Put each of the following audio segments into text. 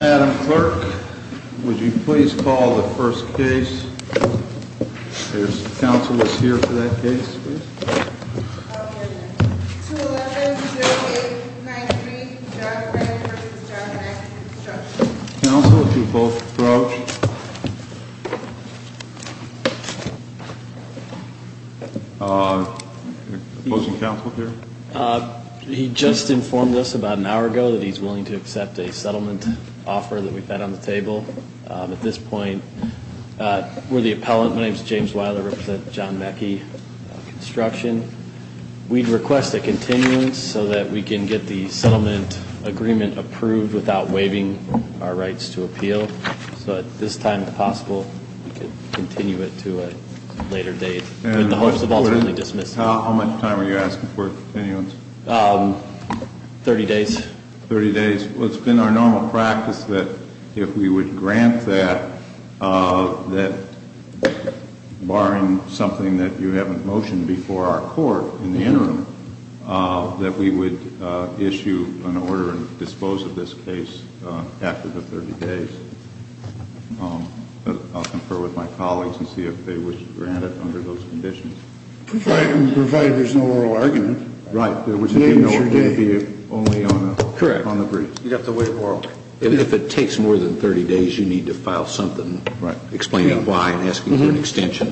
Adam Clerk, would you please call the first case? There's counsel that's here for that case, please. Counsel, would you both approach? Opposing counsel here? He just informed us about an hour ago that he's willing to accept a settlement offer that we've got on the table. At this point, we're the appellant. My name's James Weiler. I represent John Mackey Construction. We'd request a continuance so that we can get the settlement agreement approved without waiving our rights to appeal. So at this time, if possible, we could continue it to a later date in the hopes of ultimately dismissing it. How much time are you asking for a continuance? Thirty days. Thirty days. Well, it's been our normal practice that if we would grant that, that barring something that you haven't motioned before our court in the interim, that we would issue an order and dispose of this case after the 30 days. I'll confer with my colleagues and see if they wish to grant it under those conditions. Provided there's no oral argument. Right. In other words, if you know it's going to be only on the briefs. Correct. You've got the way of the world. If it takes more than 30 days, you need to file something explaining why and asking for an extension.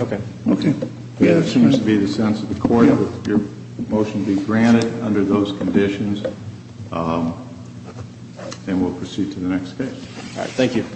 Okay. Okay. Yes, it must be the sense of the court that your motion be granted under those conditions, and we'll proceed to the next case. All right. Thank you.